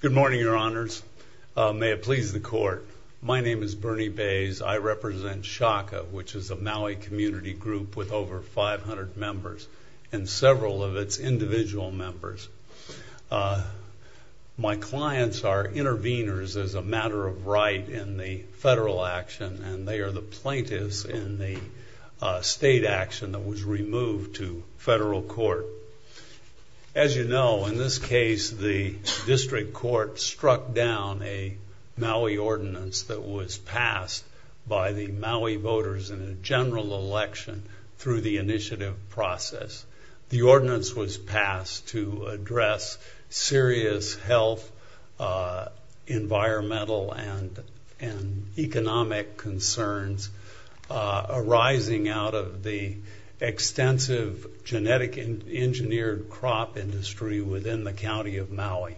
Good morning, your honors. May it please the court, my name is Bernie Bays. I represent SHACA, which is a Maui community group with over 500 members and several of its individual members. My clients are intervenors as a matter of right in the federal action and they are the plaintiffs in the state action that was removed to federal court. As you know, in this case the district court struck down a Maui ordinance that was passed by the Maui voters in a general election through the initiative process. The ordinance was passed to address serious health, environmental, and economic concerns arising out of the extensive genetic engineered crop industry within the county of Maui.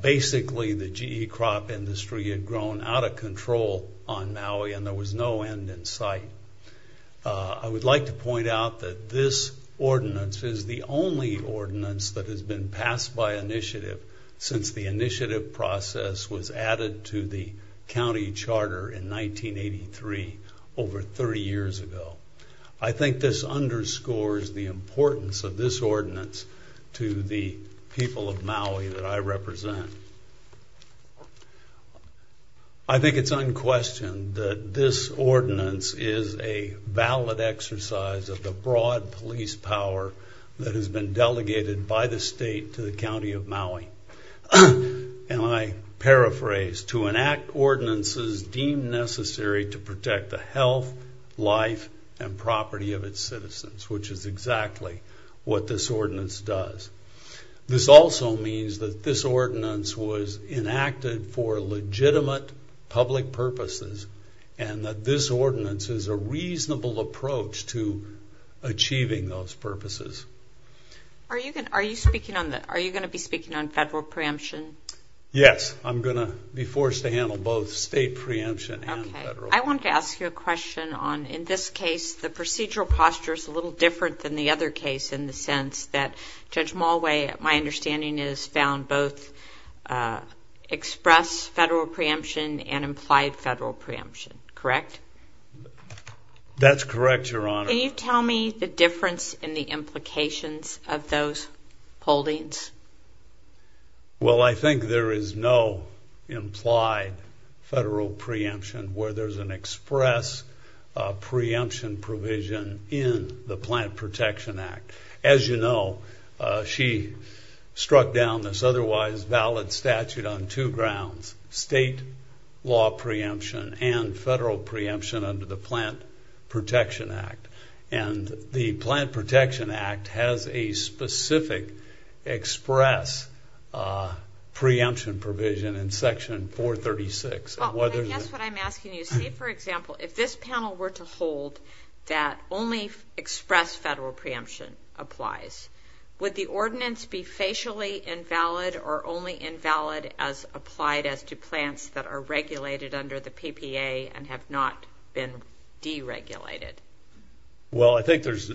Basically, the GE crop industry had grown out of control on Maui and there was no end in sight. I would like to point out that this ordinance is the only ordinance that has been passed by initiative since the initiative process was added to the county charter in 1983, over 30 years ago. I think this underscores the importance of this ordinance to the people of Maui that I represent. I believe that this ordinance is the only broad police power that has been delegated by the state to the county of Maui. And I paraphrase, to enact ordinances deemed necessary to protect the health, life, and property of its citizens, which is exactly what this ordinance does. This also means that this ordinance was enacted for legitimate public purposes and that this ordinance was enacted for achieving those purposes. Are you going to be speaking on federal preemption? Yes, I'm going to be forced to handle both state preemption and federal preemption. I wanted to ask you a question on, in this case, the procedural posture is a little different than the other case in the sense that Judge Mulway, my understanding is, found both express federal preemption and implied federal preemption, correct? That's correct, Your Honor. Can you tell me the difference in the implications of those holdings? Well, I think there is no implied federal preemption where there's an express preemption provision in the Plant Protection Act. As you know, she struck down this otherwise valid statute on two grounds, state law preemption and federal preemption under the Plant Protection Act has a specific express preemption provision in Section 436. Well, I guess what I'm asking you, say, for example, if this panel were to hold that only express federal preemption applies, would the ordinance be facially invalid or only invalid as applied as to plants that are regulated under the PPA and have not been deregulated? Well, I think there's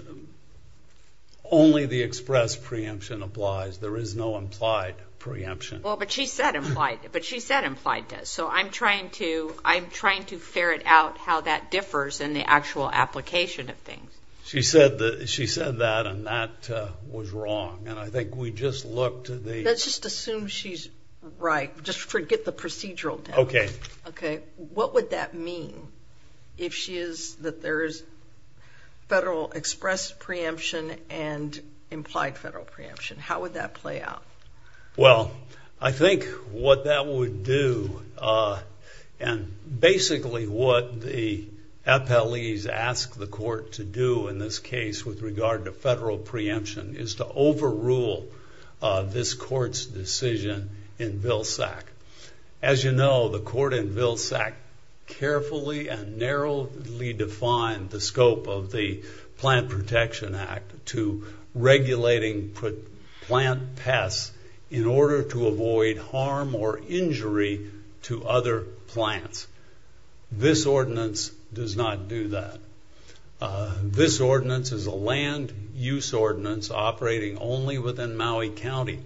only the express preemption applies. There is no implied preemption. Well, but she said implied does. So I'm trying to ferret out how that differs in the actual application of things. She said that, and that was wrong. And I think we just looked at the... Let's just assume she's right. Just forget the procedural. Okay. Okay. What would that mean if she is, that there is federal express preemption and implied federal preemption? How would that play out? Well, I think what that would do, and basically what the FLEs ask the court to do in this case with regard to federal preemption, is to overrule this court's decision in Vilsack. As you know, the court in Vilsack carefully and narrowly defined the scope of the Plant Protection Act to regulating plant pests in order to avoid harm or injury to other plants. This ordinance does not do that. This ordinance is a land use ordinance operating only within Maui County.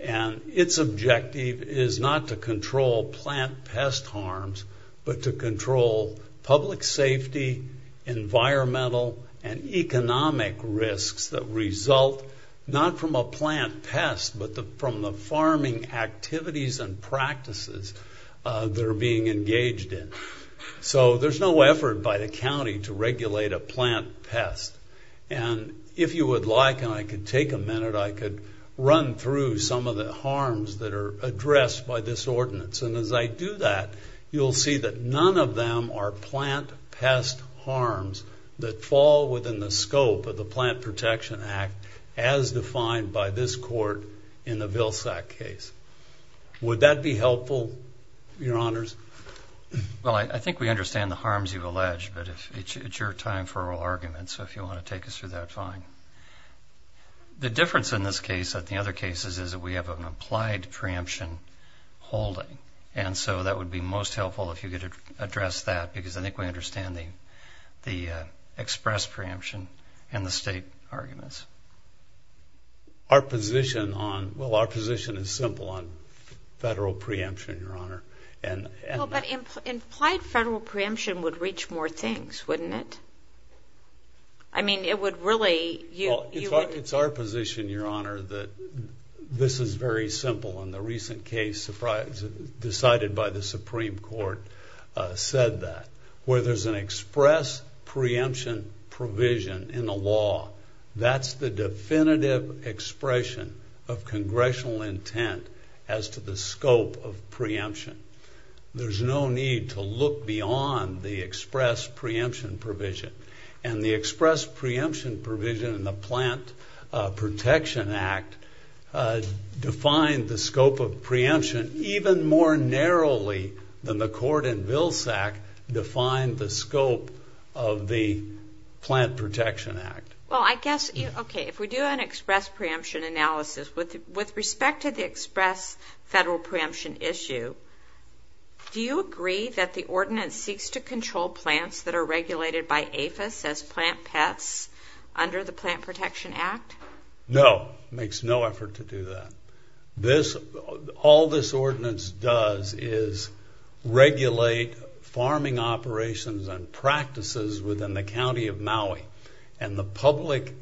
And its objective is not to control plant pest harms, but to control public safety, environmental, and economic risks that result not from a plant pest, but from the farming activities and practices that are being engaged in. So there's no effort by the county to regulate a plant pest. And if you would like, and I could take a minute, I could run through some of the harms that are addressed by this ordinance. And as I do that, you'll see that none of them are plant pest harms that fall within the scope of the Plant Protection Act, as defined by this court in the Vilsack case. Would that be helpful, Your Honors? Well, I think we understand the harms you've alleged, but it's your time for oral argument. So if you want to take us through that, fine. The difference in this case and the other cases is that we have an applied preemption holding. And so that would be most helpful if you could address that, because I think we understand the express preemption and the state arguments. Our position on – well, our position is simple on federal preemption, Your Honor. Well, but implied federal preemption would reach more things, wouldn't it? I mean, it would really – Well, it's our position, Your Honor, that this is very simple. And the recent case decided by the Supreme Court said that. Where there's an express preemption provision in the law, that's the definitive expression of congressional intent as to the scope of preemption. There's no need to look beyond the express preemption provision. And the express preemption provision in the Plant Protection Act defined the scope of preemption even more narrowly than the court in Vilsack defined the scope of the Plant Protection Act. Well, I guess – okay, if we do an express preemption analysis, with respect to the express federal preemption issue, do you agree that the ordinance seeks to control plants that are regulated by APHIS as plant pets under the Plant Protection Act? No, it makes no effort to do that. All this ordinance does is regulate farming operations and practices within the county of Maui and the public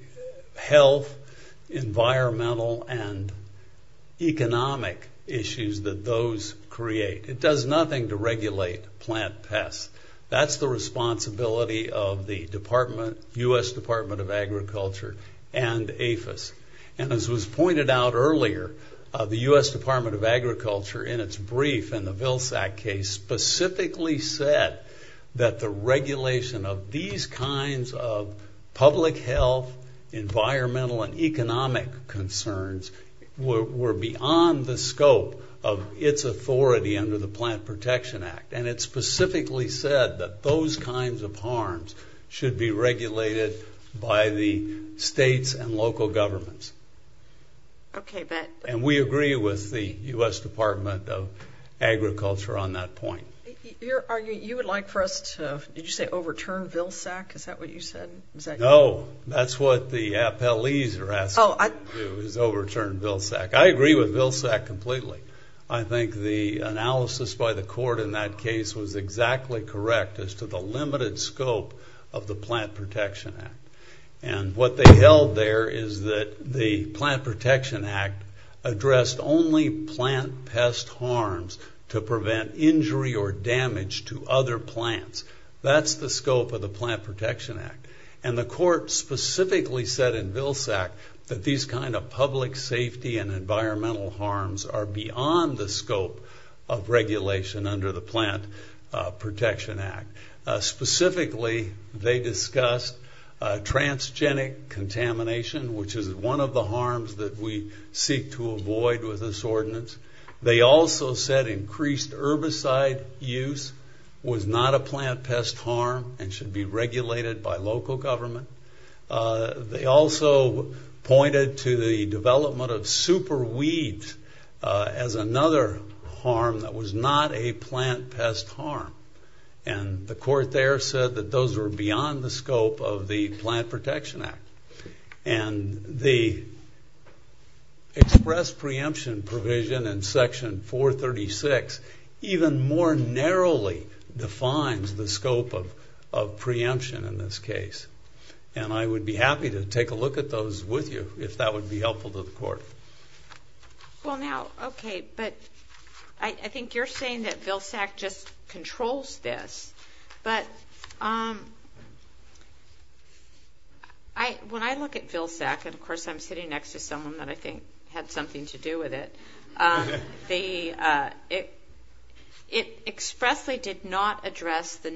health, environmental, and economic issues that those create. It does nothing to regulate plant pets. That's the responsibility of the U.S. Department of Agriculture and APHIS. And as was pointed out earlier, the U.S. Department of Agriculture in its brief in the Vilsack case specifically said that the regulation of these kinds of public health, environmental, and economic concerns were beyond the scope of its authority under the Plant Protection Act. And it specifically said that those kinds of harms should be regulated by the states and local governments. And we agree with the U.S. Department of Agriculture on that point. You would like for us to – did you say overturn Vilsack? Is that what you said? No, that's what the appellees are asking to do, is overturn Vilsack. I agree with Vilsack completely. I think the analysis by the court in that case was exactly correct as to the limited scope of the Plant Protection Act. And what they held there is that the Plant Protection Act addressed only plant pest harms to prevent injury or damage to other plants. That's the scope of the Plant Protection Act. And the court specifically said in Vilsack that these kind of public safety and environmental harms are beyond the scope of regulation under the Plant Protection Act. Specifically, they discussed transgenic contamination, which is one of the harms that we seek to avoid with this ordinance. They also said increased herbicide use was not a plant pest harm and should be regulated by local government. They also pointed to the development of super weeds as another harm that was not a plant pest harm. And the court there said that those were beyond the scope of the Plant Protection Act. And the express preemption provision in Section 436 even more narrowly defines the scope of preemption in this case. And I would be happy to take a look at those with you if that would be helpful to the court. Well now, okay, but I think you're saying that Vilsack just controls this. But when I look at Vilsack, and of course I'm sitting next to someone that I think had something to do with it, it expressly did not address the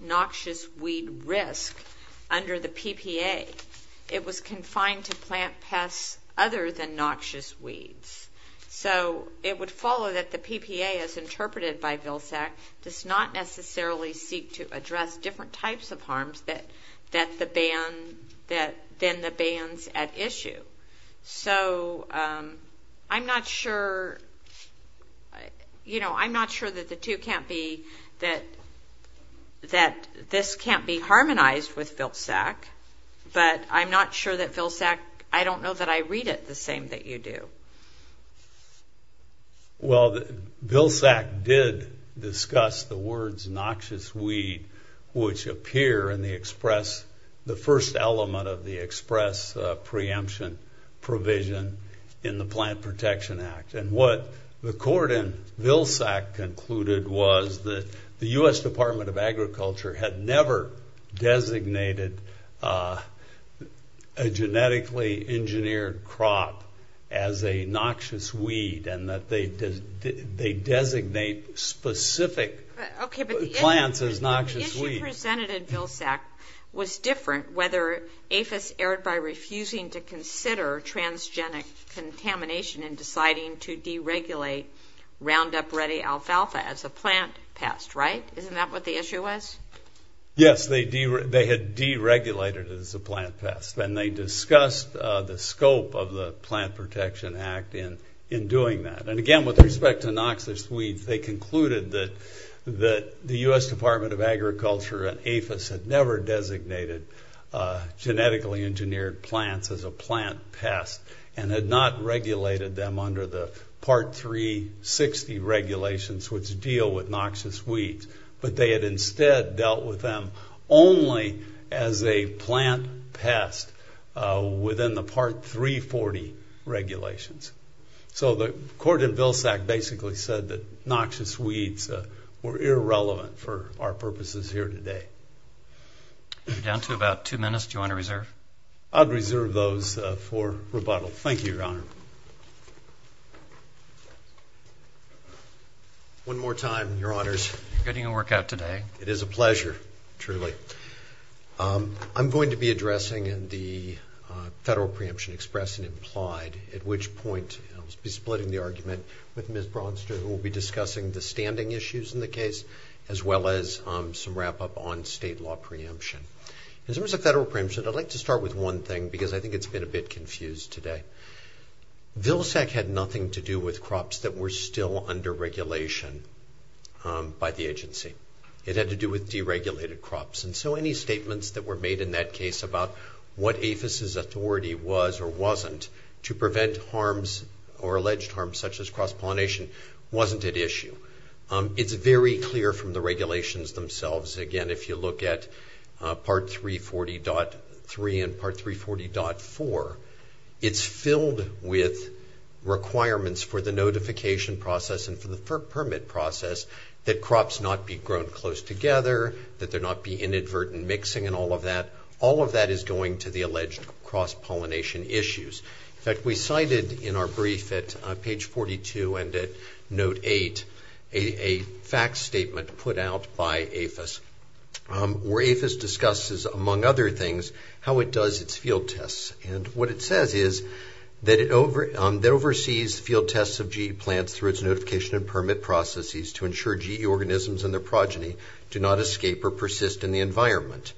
noxious weed risk under the PPA. It was confined to plant pests other than noxious weeds. So it would follow that the PPA, as interpreted by Vilsack, does not necessarily seek to address different types of harms than the bans at issue. So I'm not sure that this can't be harmonized with Vilsack, but I'm not sure that Vilsack, I don't know that I read it the same that you do. Well, Vilsack did discuss the words noxious weed, which appear in the express, the first element of the express preemption provision in the Plant Protection Act. And what the court in Vilsack concluded was that the U.S. Department of Agriculture had never designated a genetically engineered crop as a noxious weed and that they designate specific plants as noxious weeds. Okay, but the issue presented in Vilsack was different whether APHIS erred by refusing to consider transgenic contamination and deciding to deregulate Roundup Ready alfalfa as a plant pest, right? Isn't that what the issue was? Yes, they had deregulated it as a plant pest. And they discussed the scope of the Plant Protection Act in doing that. And again, with respect to noxious weeds, they concluded that the U.S. Department of Agriculture and APHIS had never designated genetically engineered plants as a plant pest and had not regulated them under the Part 360 regulations, which deal with noxious weeds. But they had instead dealt with them only as a plant pest within the Part 340 regulations. So the court in Vilsack basically said that noxious weeds were irrelevant for our purposes here today. We're down to about two minutes. Do you want to reserve? I'd reserve those for rebuttal. Thank you, Your Honor. One more time, Your Honors. Good to work out today. It is a pleasure, truly. I'm going to be addressing the federal preemption express and implied, at which point I'll be splitting the argument with Ms. Braunster, who will be discussing the standing issues in the case as well as some wrap-up on state law preemption. In terms of federal preemption, I'd like to start with one thing because I think it's been a bit confused today. Vilsack had nothing to do with crops that were still under regulation by the agency. It had to do with deregulated crops. And so any statements that were made in that case about what APHIS's authority was or wasn't to prevent harms or alleged harms such as cross-pollination wasn't at issue. It's very clear from the regulations themselves. Again, if you look at Part 340.3 and Part 340.4, it's filled with requirements for the notification process and for the permit process that crops not be grown close together, that there not be inadvertent mixing and all of that. All of that is going to the alleged cross-pollination issues. In fact, we cited in our brief at page 42 and at note 8 a fact statement put out by APHIS where APHIS discusses, among other things, how it does its field tests. And what it says is that it oversees field tests of GE plants through its notification and permit processes to ensure GE organisms and their progeny do not escape or persist in the environment.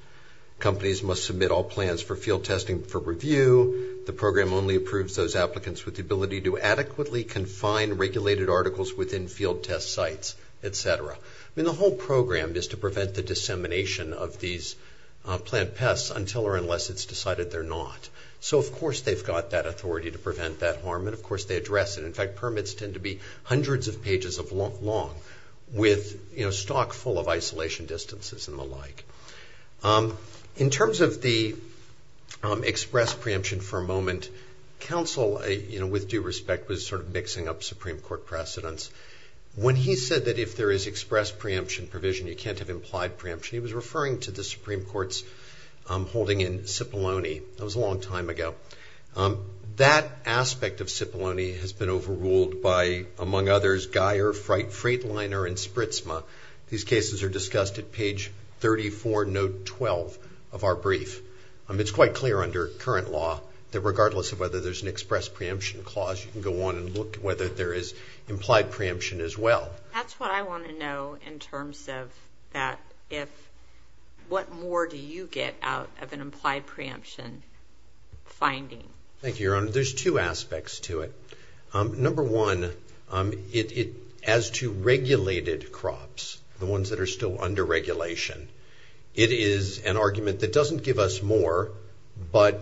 Companies must submit all plans for field testing for review. The program only approves those applicants with the ability to adequately confine regulated articles within field test sites, et cetera. The whole program is to prevent the dissemination of these plant pests until or unless it's decided they're not. So of course they've got that authority to prevent that harm, and of course they address it. In fact, permits tend to be hundreds of pages long with stock full of isolation distances and the like. In terms of the express preemption for a moment, counsel, with due respect, was sort of mixing up Supreme Court precedents. When he said that if there is express preemption provision, you can't have implied preemption, he was referring to the Supreme Court's holding in Cipollone. That was a long time ago. That aspect of Cipollone has been overruled by, among others, Geyer, Freightliner, and Spritzma. These cases are discussed at page 34, note 12 of our brief. It's quite clear under current law that regardless of whether there's an express preemption clause, you can go on and look whether there is implied preemption as well. That's what I want to know in terms of what more do you get out of an implied preemption finding. Thank you, Your Honor. There's two aspects to it. Number one, as to regulated crops, the ones that are still under regulation, it is an argument that doesn't give us more, but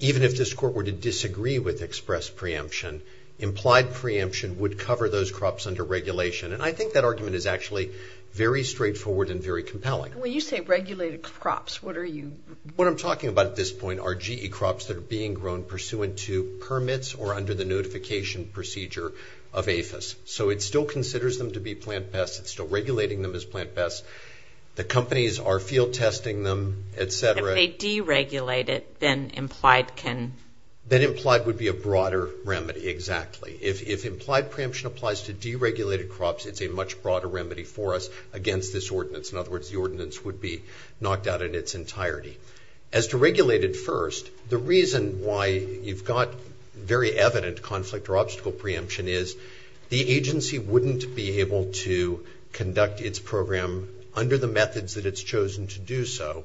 even if this Court were to disagree with express preemption, implied preemption would cover those crops under regulation. And I think that argument is actually very straightforward and very compelling. When you say regulated crops, what are you? What I'm talking about at this point are GE crops that are being grown pursuant to permits or under the notification procedure of APHIS. So it still considers them to be plant pests. It's still regulating them as plant pests. The companies are field testing them, et cetera. If they deregulate it, then implied can? Then implied would be a broader remedy, exactly. If implied preemption applies to deregulated crops, it's a much broader remedy for us against this ordinance. In other words, the ordinance would be knocked out in its entirety. As to regulated first, the reason why you've got very evident conflict or obstacle preemption is the agency wouldn't be able to conduct its program under the methods that it's chosen to do so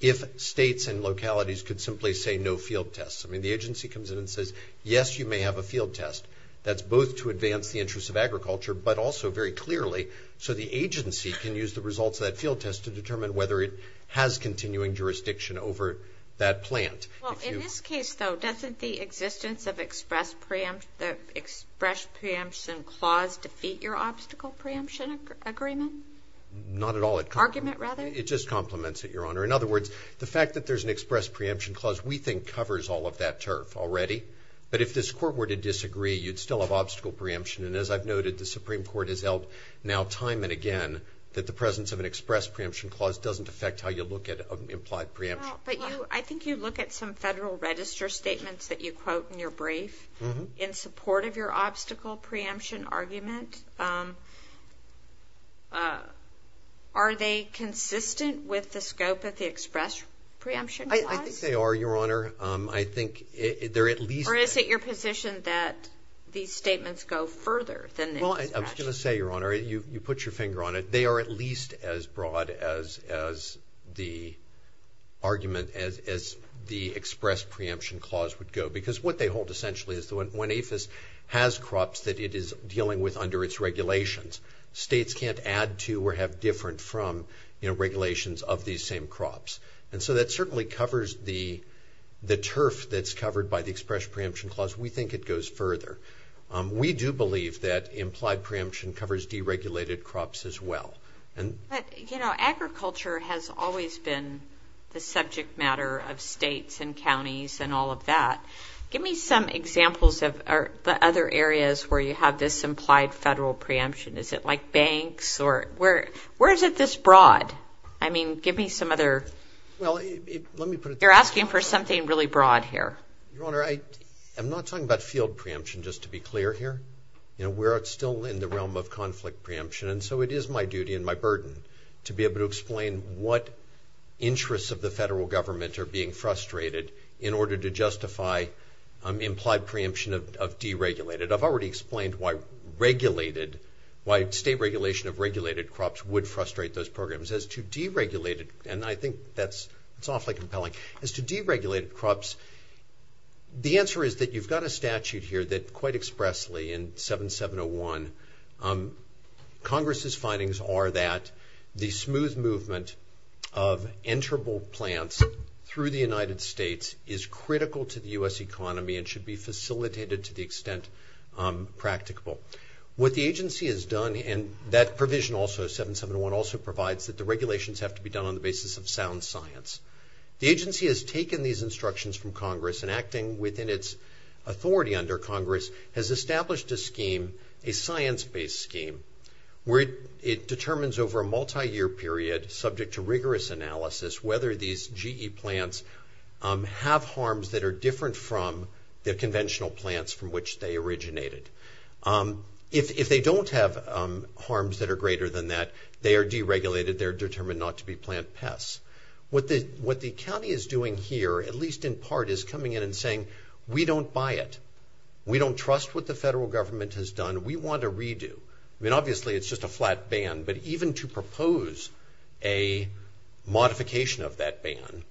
if states and localities could simply say no field tests. I mean, the agency comes in and says, yes, you may have a field test. That's both to advance the interests of agriculture, but also very clearly so the agency can use the results of that field test to determine whether it has continuing jurisdiction over that plant. Well, in this case, though, doesn't the existence of express preemption clause defeat your obstacle preemption agreement? Not at all. Argument, rather? It just complements it, Your Honor. In other words, the fact that there's an express preemption clause we think covers all of that turf already. But if this Court were to disagree, you'd still have obstacle preemption. And as I've noted, the Supreme Court has held now time and again that the presence of an express preemption clause doesn't affect how you look at implied preemption. I think you look at some Federal Register statements that you quote in your brief in support of your obstacle preemption argument. Are they consistent with the scope of the express preemption clause? I think they are, Your Honor. Well, I was going to say, Your Honor, you put your finger on it, they are at least as broad as the argument, as the express preemption clause would go. Because what they hold essentially is when APHIS has crops that it is dealing with under its regulations, states can't add to or have different from regulations of these same crops. And so that certainly covers the turf that's covered by the express preemption clause. We think it goes further. We do believe that implied preemption covers deregulated crops as well. But, you know, agriculture has always been the subject matter of states and counties and all of that. Give me some examples of other areas where you have this implied Federal preemption. Is it like banks? Where is it this broad? I mean, give me some other. Well, let me put it this way. You're asking for something really broad here. Your Honor, I'm not talking about field preemption, just to be clear here. You know, we're still in the realm of conflict preemption, and so it is my duty and my burden to be able to explain what interests of the Federal Government are being frustrated in order to justify implied preemption of deregulated. I've already explained why regulated, why state regulation of regulated crops would frustrate those programs. As to deregulated, and I think that's awfully compelling, as to deregulated crops, the answer is that you've got a statute here that quite expressly in 7701, Congress's findings are that the smooth movement of enterable plants through the United States is critical to the U.S. economy and should be facilitated to the extent practicable. What the agency has done, and that provision also, 7701, also provides that the regulations have to be done on the basis of sound science. The agency has taken these instructions from Congress and acting within its authority under Congress, has established a scheme, a science-based scheme, where it determines over a multi-year period, subject to rigorous analysis, whether these GE plants have harms that are different from the conventional plants from which they originated. If they don't have harms that are greater than that, they are deregulated, they're determined not to be plant pests. What the county is doing here, at least in part, is coming in and saying, we don't buy it. We don't trust what the federal government has done. We want a redo. I mean, obviously, it's just a flat ban, but even to propose a modification of that ban,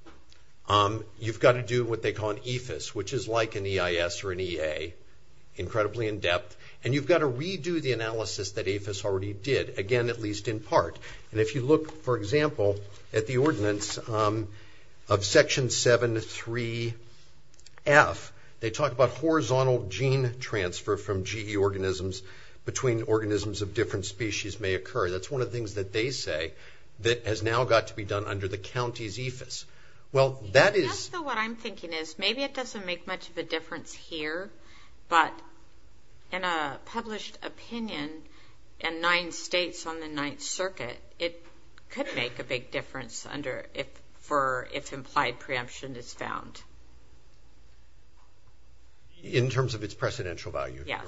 you've got to do what they call an EFIS, which is like an EIS or an EA, incredibly in-depth, and you've got to redo the analysis that EFIS already did, again, at least in part. And if you look, for example, at the ordinance of Section 7.3.F, they talk about horizontal gene transfer from GE organisms between organisms of different species may occur. That's one of the things that they say that has now got to be done under the county's EFIS. Well, that is... Just what I'm thinking is maybe it doesn't make much of a difference here, but in a published opinion in nine states on the Ninth Circuit, it could make a big difference if implied preemption is found. In terms of its precedential value? Yes.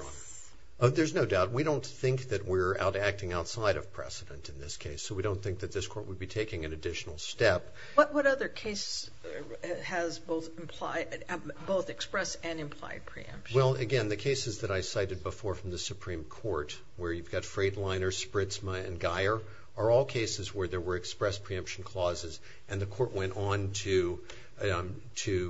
There's no doubt. We don't think that we're acting outside of precedent in this case, so we don't think that this court would be taking an additional step. What other cases has both expressed and implied preemption? Well, again, the cases that I cited before from the Supreme Court, where you've got Freightliner, Spritzma, and Guyer, are all cases where there were expressed preemption clauses and the court went on to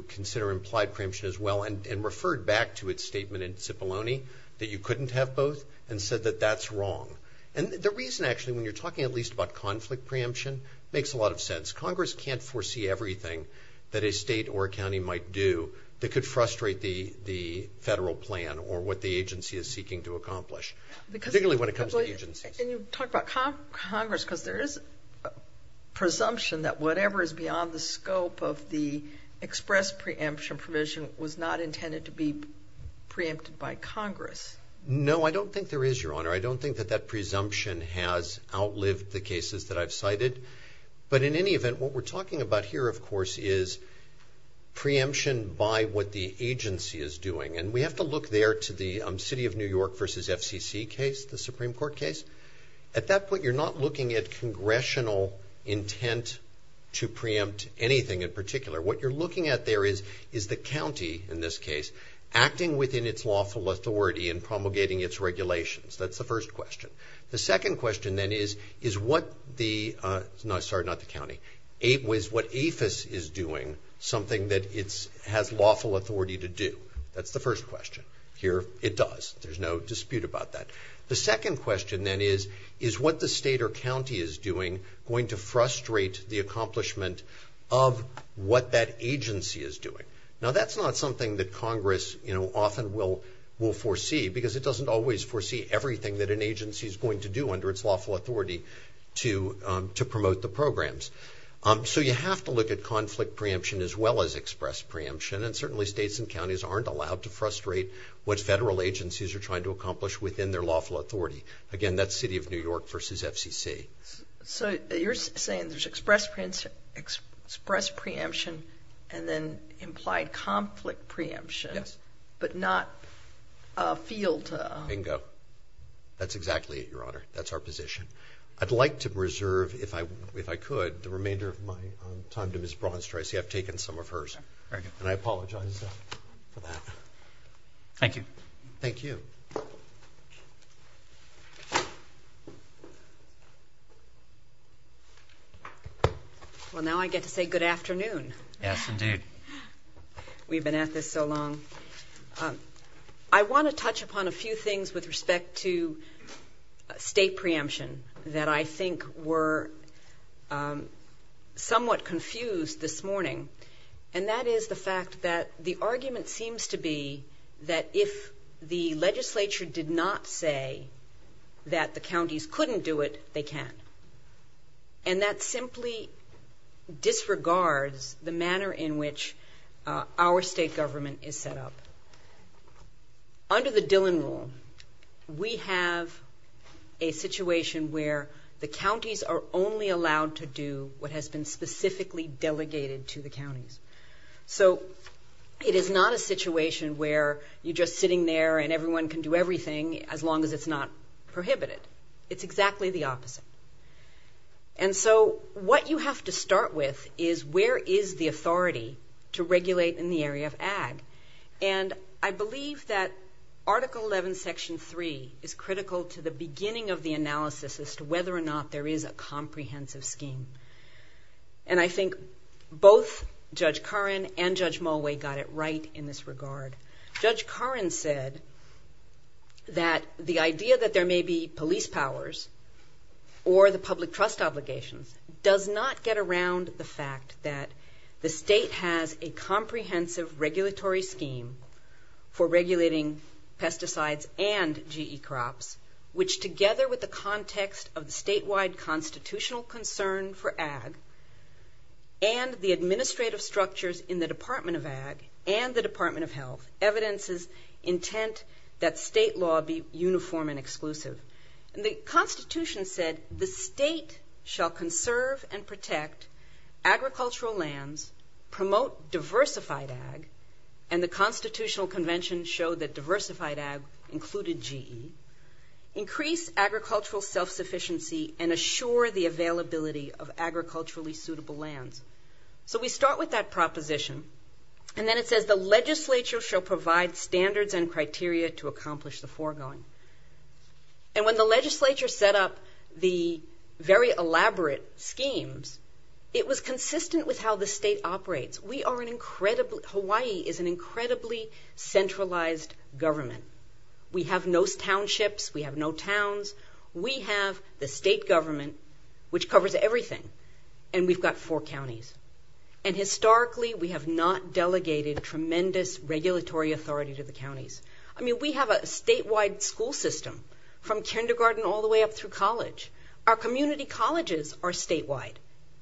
consider implied preemption as well and referred back to its statement in Cipollone that you couldn't have both and said that that's wrong. And the reason, actually, when you're talking at least about conflict preemption, makes a lot of sense. Congress can't foresee everything that a state or a county might do that could frustrate the federal plan or what the agency is seeking to accomplish, particularly when it comes to agencies. And you talk about Congress because there is a presumption that whatever is beyond the scope of the expressed preemption provision was not intended to be preempted by Congress. No, I don't think there is, Your Honor. I don't think that that presumption has outlived the cases that I've cited. But in any event, what we're talking about here, of course, is preemption by what the agency is doing. And we have to look there to the City of New York v. FCC case, the Supreme Court case. At that point, you're not looking at congressional intent to preempt anything in particular. What you're looking at there is the county, in this case, acting within its lawful authority and promulgating its regulations. That's the first question. The second question, then, is, is what the, no, sorry, not the county, is what APHIS is doing something that it has lawful authority to do? That's the first question. Here, it does. There's no dispute about that. The second question, then, is, is what the state or county is doing going to frustrate the accomplishment of what that agency is doing? Now, that's not something that Congress, you know, often will foresee because it doesn't always foresee everything that an agency is going to do under its lawful authority to promote the programs. So you have to look at conflict preemption as well as express preemption, and certainly states and counties aren't allowed to frustrate what federal agencies are trying to accomplish within their lawful authority. Again, that's City of New York v. FCC. So you're saying there's express preemption and then implied conflict preemption. Yes. But not a field. Bingo. That's exactly it, Your Honor. That's our position. I'd like to reserve, if I could, the remainder of my time to Ms. Braunstreich. See, I've taken some of hers. And I apologize for that. Thank you. Thank you. Well, now I get to say good afternoon. Yes, indeed. We've been at this so long. I want to touch upon a few things with respect to state preemption that I think were somewhat confused this morning, and that is the fact that the argument seems to be that if the legislature did not say that the counties couldn't do it, they can. And that simply disregards the manner in which our state government is set up. Under the Dillon Rule, we have a situation where the counties are only allowed to do what has been specifically delegated to the counties. So it is not a situation where you're just sitting there and everyone can do everything as long as it's not prohibited. It's exactly the opposite. And so what you have to start with is where is the authority to regulate in the area of ag? And I believe that Article 11, Section 3 is critical to the beginning of the analysis as to whether or not there is a comprehensive scheme. And I think both Judge Curran and Judge Mulway got it right in this regard. Judge Curran said that the idea that there may be police powers or the public trust obligations does not get around the fact that the state has a comprehensive regulatory scheme for regulating pesticides and GE crops, which together with the context of the statewide constitutional concern for ag and the administrative structures in the Department of Ag and the Department of Health, evidences intent that state law be uniform and exclusive. The Constitution said the state shall conserve and protect agricultural lands, promote diversified ag, and the Constitutional Convention showed that diversified ag included GE, increase agricultural self-sufficiency, and assure the availability of agriculturally suitable lands. So we start with that proposition, and then it says the legislature shall provide standards and criteria to accomplish the foregoing. And when the legislature set up the very elaborate schemes, it was consistent with how the state operates. Hawaii is an incredibly centralized government. We have no townships. We have no towns. We have the state government, which covers everything, and we've got four counties. And historically, we have not delegated tremendous regulatory authority to the counties. I mean, we have a statewide school system from kindergarten all the way up through college. Our community colleges are statewide,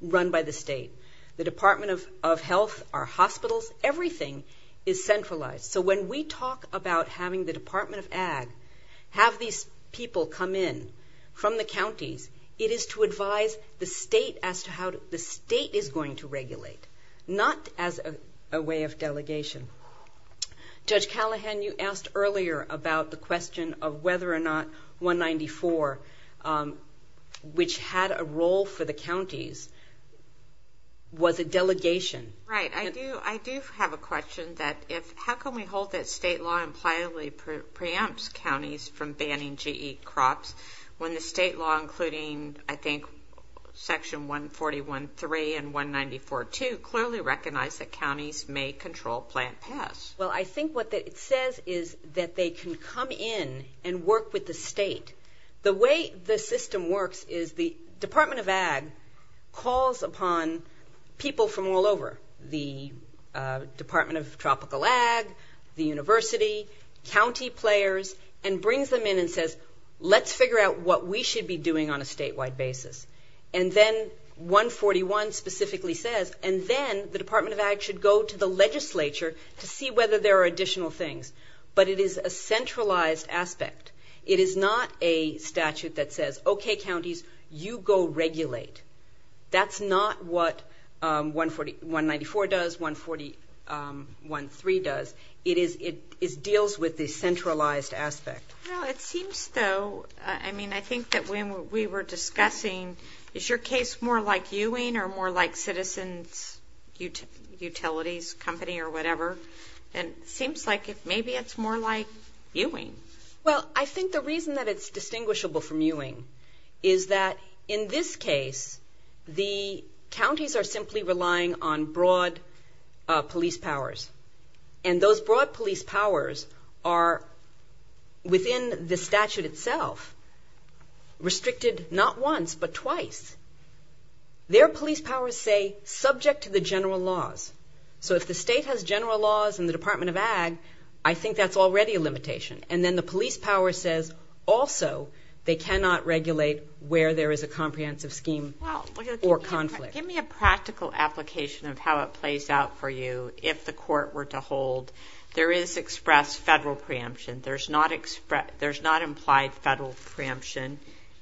run by the state. The Department of Health, our hospitals, everything is centralized. So when we talk about having the Department of Ag have these people come in from the counties, it is to advise the state as to how the state is going to regulate, not as a way of delegation. Judge Callahan, you asked earlier about the question of whether or not 194, which had a role for the counties, was a delegation. Right. I do have a question. How can we hold that state law impliedly preempts counties from banning GE crops when the state law, including, I think, Section 141.3 and 194.2, clearly recognize that counties may control plant paths? Well, I think what it says is that they can come in and work with the state. The way the system works is the Department of Ag calls upon people from all over, the Department of Tropical Ag, the university, county players, and brings them in and says, let's figure out what we should be doing on a statewide basis. And then 141 specifically says, and then the Department of Ag should go to the legislature to see whether there are additional things. But it is a centralized aspect. It is not a statute that says, okay, counties, you go regulate. That's not what 194 does, 141.3 does. It deals with the centralized aspect. Well, it seems, though, I mean, I think that when we were discussing, is your case more like Ewing or more like Citizens Utilities Company or whatever? It seems like maybe it's more like Ewing. Well, I think the reason that it's distinguishable from Ewing is that in this case, the counties are simply relying on broad police powers. And those broad police powers are, within the statute itself, restricted not once but twice. Their police powers say, subject to the general laws. So if the state has general laws and the Department of Ag, I think that's already a limitation. And then the police power says also they cannot regulate where there is a comprehensive scheme or conflict. Well, give me a practical application of how it plays out for you if the court were to hold. There is expressed federal preemption. There's not implied federal preemption.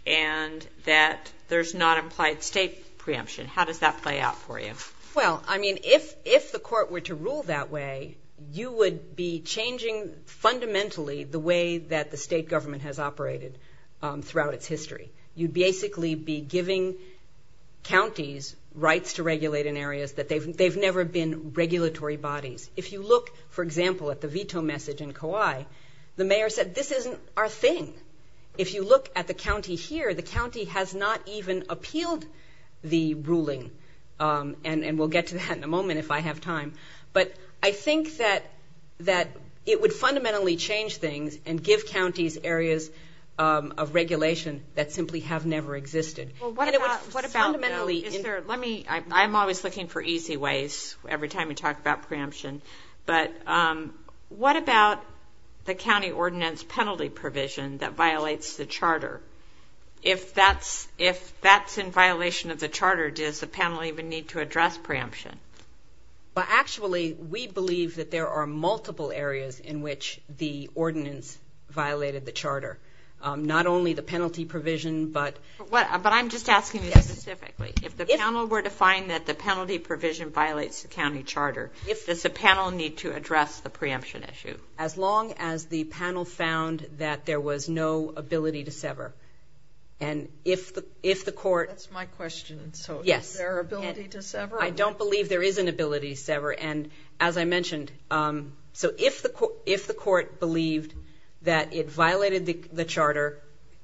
And that there's not implied state preemption. How does that play out for you? Well, I mean, if the court were to rule that way, you would be changing fundamentally the way that the state government has operated throughout its history. You'd basically be giving counties rights to regulate in areas that they've never been regulatory bodies. If you look, for example, at the veto message in Kauai, the mayor said, this isn't our thing. If you look at the county here, the county has not even appealed the ruling. And we'll get to that in a moment if I have time. But I think that it would fundamentally change things and give counties areas of regulation that simply have never existed. Well, what about, though, is there, let me, I'm always looking for easy ways every time we talk about preemption. But what about the county ordinance penalty provision that violates the charter? If that's in violation of the charter, does the panel even need to address preemption? Well, actually, we believe that there are multiple areas in which the ordinance violated the charter. Not only the penalty provision, but. But I'm just asking you specifically. If the panel were to find that the penalty provision violates the county charter, if does the panel need to address the preemption issue? As long as the panel found that there was no ability to sever. And if the court. That's my question. So is there an ability to sever? I don't believe there is an ability to sever. And as I mentioned, so if the court believed that it violated the charter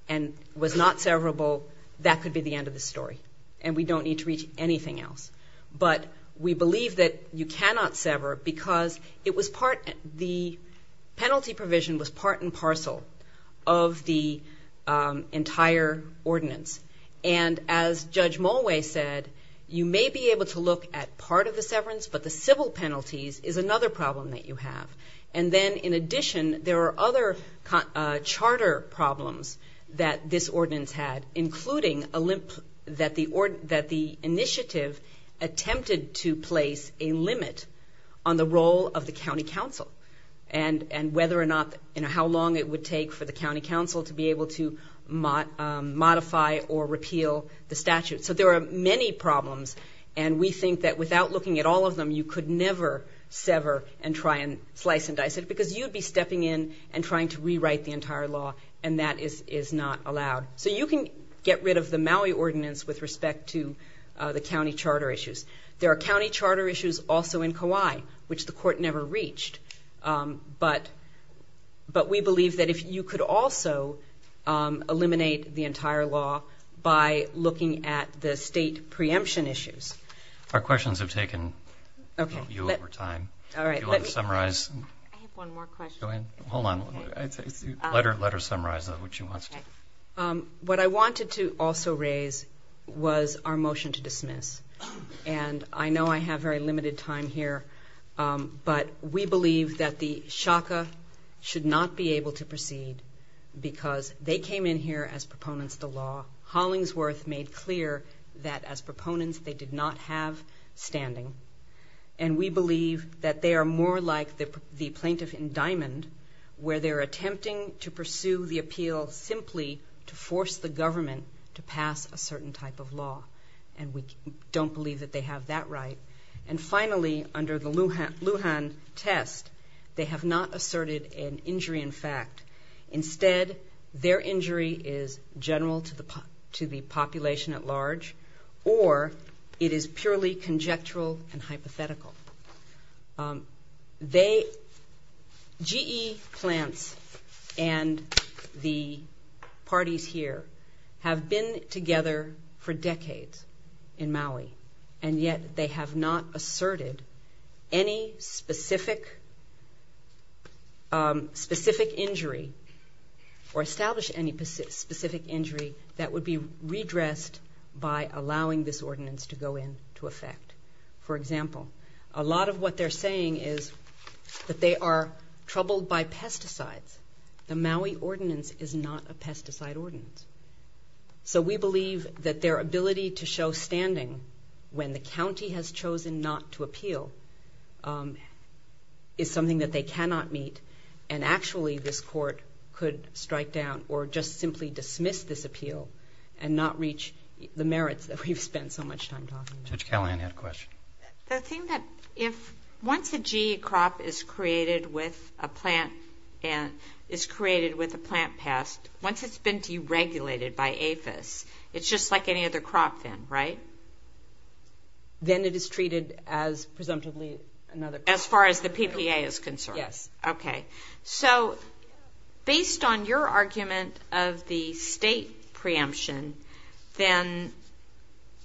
and was not severable, that could be the end of the story. And we don't need to reach anything else. But we believe that you cannot sever because it was part. The penalty provision was part and parcel of the entire ordinance. And as Judge Mulway said, you may be able to look at part of the severance, but the civil penalties is another problem that you have. And then in addition, there are other charter problems that this ordinance had. Including that the initiative attempted to place a limit on the role of the county council. And whether or not, how long it would take for the county council to be able to modify or repeal the statute. So there are many problems. And we think that without looking at all of them, you could never sever and try and slice and dice it. Because you'd be stepping in and trying to rewrite the entire law. And that is not allowed. So you can get rid of the Maui ordinance with respect to the county charter issues. There are county charter issues also in Kauai, which the court never reached. But we believe that if you could also eliminate the entire law by looking at the state preemption issues. What I wanted to also raise was our motion to dismiss. And I know I have very limited time here. But we believe that the SHACA should not be able to proceed because they came in here as proponents to law. Hollingsworth made clear that as proponents they did not have standing. And we believe that they are more like the plaintiff in Diamond. Where they're attempting to pursue the appeal simply to force the government to pass a certain type of law. And we don't believe that they have that right. And finally, under the Lujan test, they have not asserted an injury in fact. Instead, their injury is general to the population at large. Or it is purely conjectural and hypothetical. GE plants and the parties here have been together for decades in Maui. And yet they have not asserted any specific injury or established any specific injury that would be redressed by allowing this ordinance to go into effect. For example, a lot of what they're saying is that they are troubled by pesticides. The Maui ordinance is not a pesticide ordinance. So we believe that their ability to show standing when the county has chosen not to appeal is something that they cannot meet. And actually this court could strike down or just simply dismiss this appeal and not reach the merits that we've spent so much time talking about. Judge Callahan had a question. The thing that if once a GE crop is created with a plant pest, once it's been deregulated by APHIS, it's just like any other crop then, right? Then it is treated as presumptively another crop. As far as the PPA is concerned? Yes. Okay. So based on your argument of the state preemption, then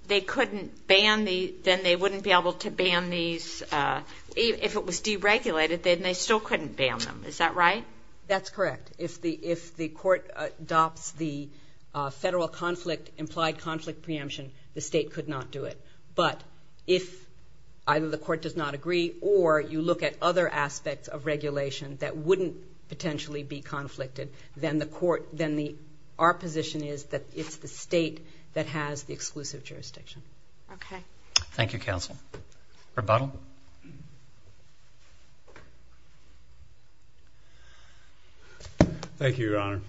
they wouldn't be able to ban these, if it was deregulated, then they still couldn't ban them. Is that right? That's correct. If the court adopts the federal conflict, implied conflict preemption, the state could not do it. But if either the court does not agree or you look at other aspects of regulation that wouldn't potentially be conflicted, then our position is that it's the state that has the exclusive jurisdiction. Okay. Thank you, counsel. Thank you, Your Honor.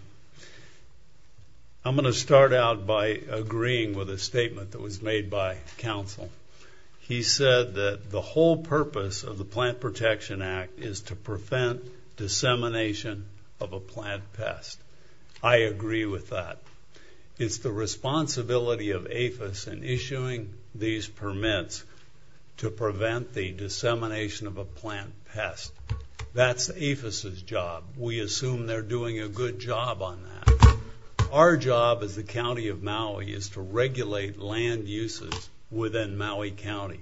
I'm going to start out by agreeing with a statement that was made by counsel. He said that the whole purpose of the Plant Protection Act is to prevent dissemination of a plant pest. I agree with that. It's the responsibility of APHIS in issuing these permits to prevent the dissemination of a plant pest. That's APHIS's job. We assume they're doing a good job on that. Our job as the county of Maui is to regulate land uses within Maui County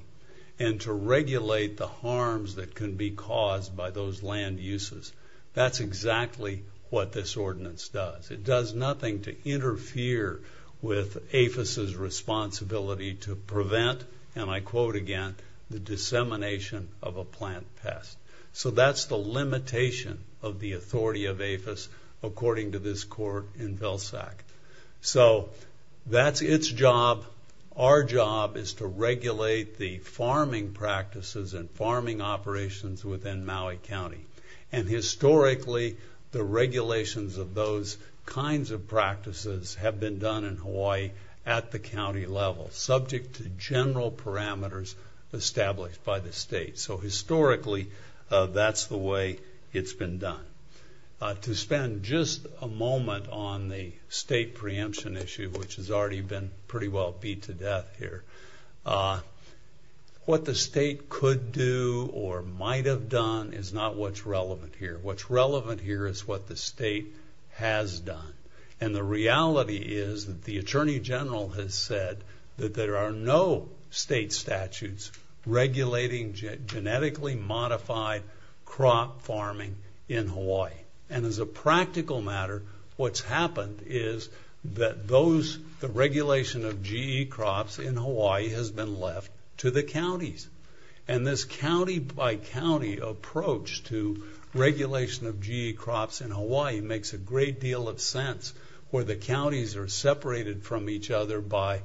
and to regulate the harms that can be caused by those land uses. That's exactly what this ordinance does. It does nothing to interfere with APHIS's responsibility to prevent, and I quote again, the dissemination of a plant pest. So that's the limitation of the authority of APHIS, according to this court in Vilsack. So that's its job. Our job is to regulate the farming practices and farming operations within Maui County. And historically, the regulations of those kinds of practices have been done in Hawaii at the county level, subject to general parameters established by the state. So historically, that's the way it's been done. To spend just a moment on the state preemption issue, which has already been pretty well beat to death here, what the state could do or might have done is not what's relevant here. What's relevant here is what the state has done. And the reality is that the Attorney General has said that there are no state statutes regulating genetically modified crop farming in Hawaii. And as a practical matter, what's happened is that the regulation of GE crops in Hawaii has been left to the counties. And this county-by-county approach to regulation of GE crops in Hawaii makes a great deal of sense, where the counties are separated from each other by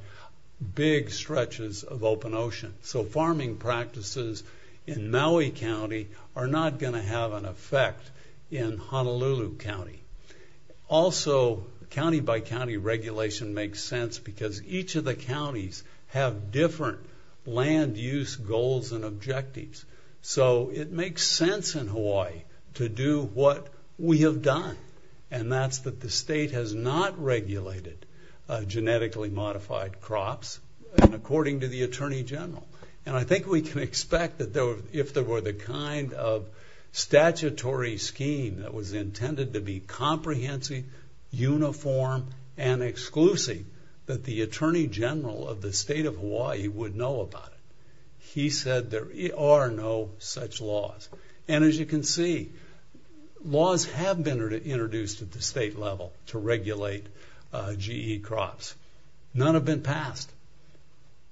big stretches of open ocean. So farming practices in Maui County are not going to have an effect in Honolulu County. Also, county-by-county regulation makes sense because each of the counties have different land use goals and objectives. So it makes sense in Hawaii to do what we have done, and that's that the state has not regulated genetically modified crops, according to the Attorney General. And I think we can expect that if there were the kind of statutory scheme that was intended to be comprehensive, uniform, and exclusive, that the Attorney General of the state of Hawaii would know about it. He said there are no such laws. And as you can see, laws have been introduced at the state level to regulate GE crops. None have been passed.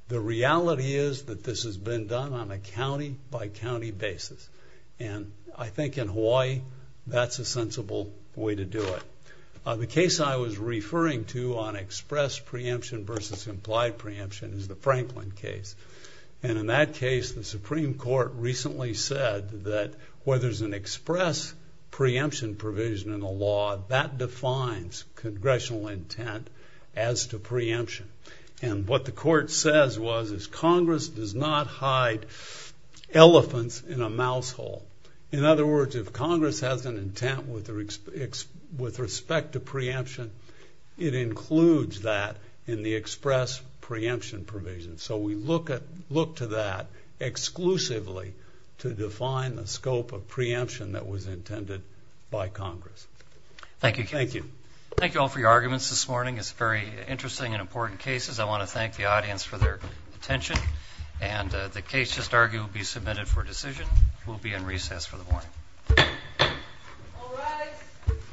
The reality is that this has been done on a county-by-county basis. And I think in Hawaii, that's a sensible way to do it. The case I was referring to on express preemption versus implied preemption is the Franklin case. And in that case, the Supreme Court recently said that where there's an express preemption provision in the law, that defines congressional intent as to preemption. And what the court says was is Congress does not hide elephants in a mouse hole. In other words, if Congress has an intent with respect to preemption, it includes that in the express preemption provision. So we look to that exclusively to define the scope of preemption that was intended by Congress. Thank you. Thank you. Thank you all for your arguments this morning. It's very interesting and important cases. I want to thank the audience for their attention. And the case just argued will be submitted for decision. We'll be in recess for the morning. All rise.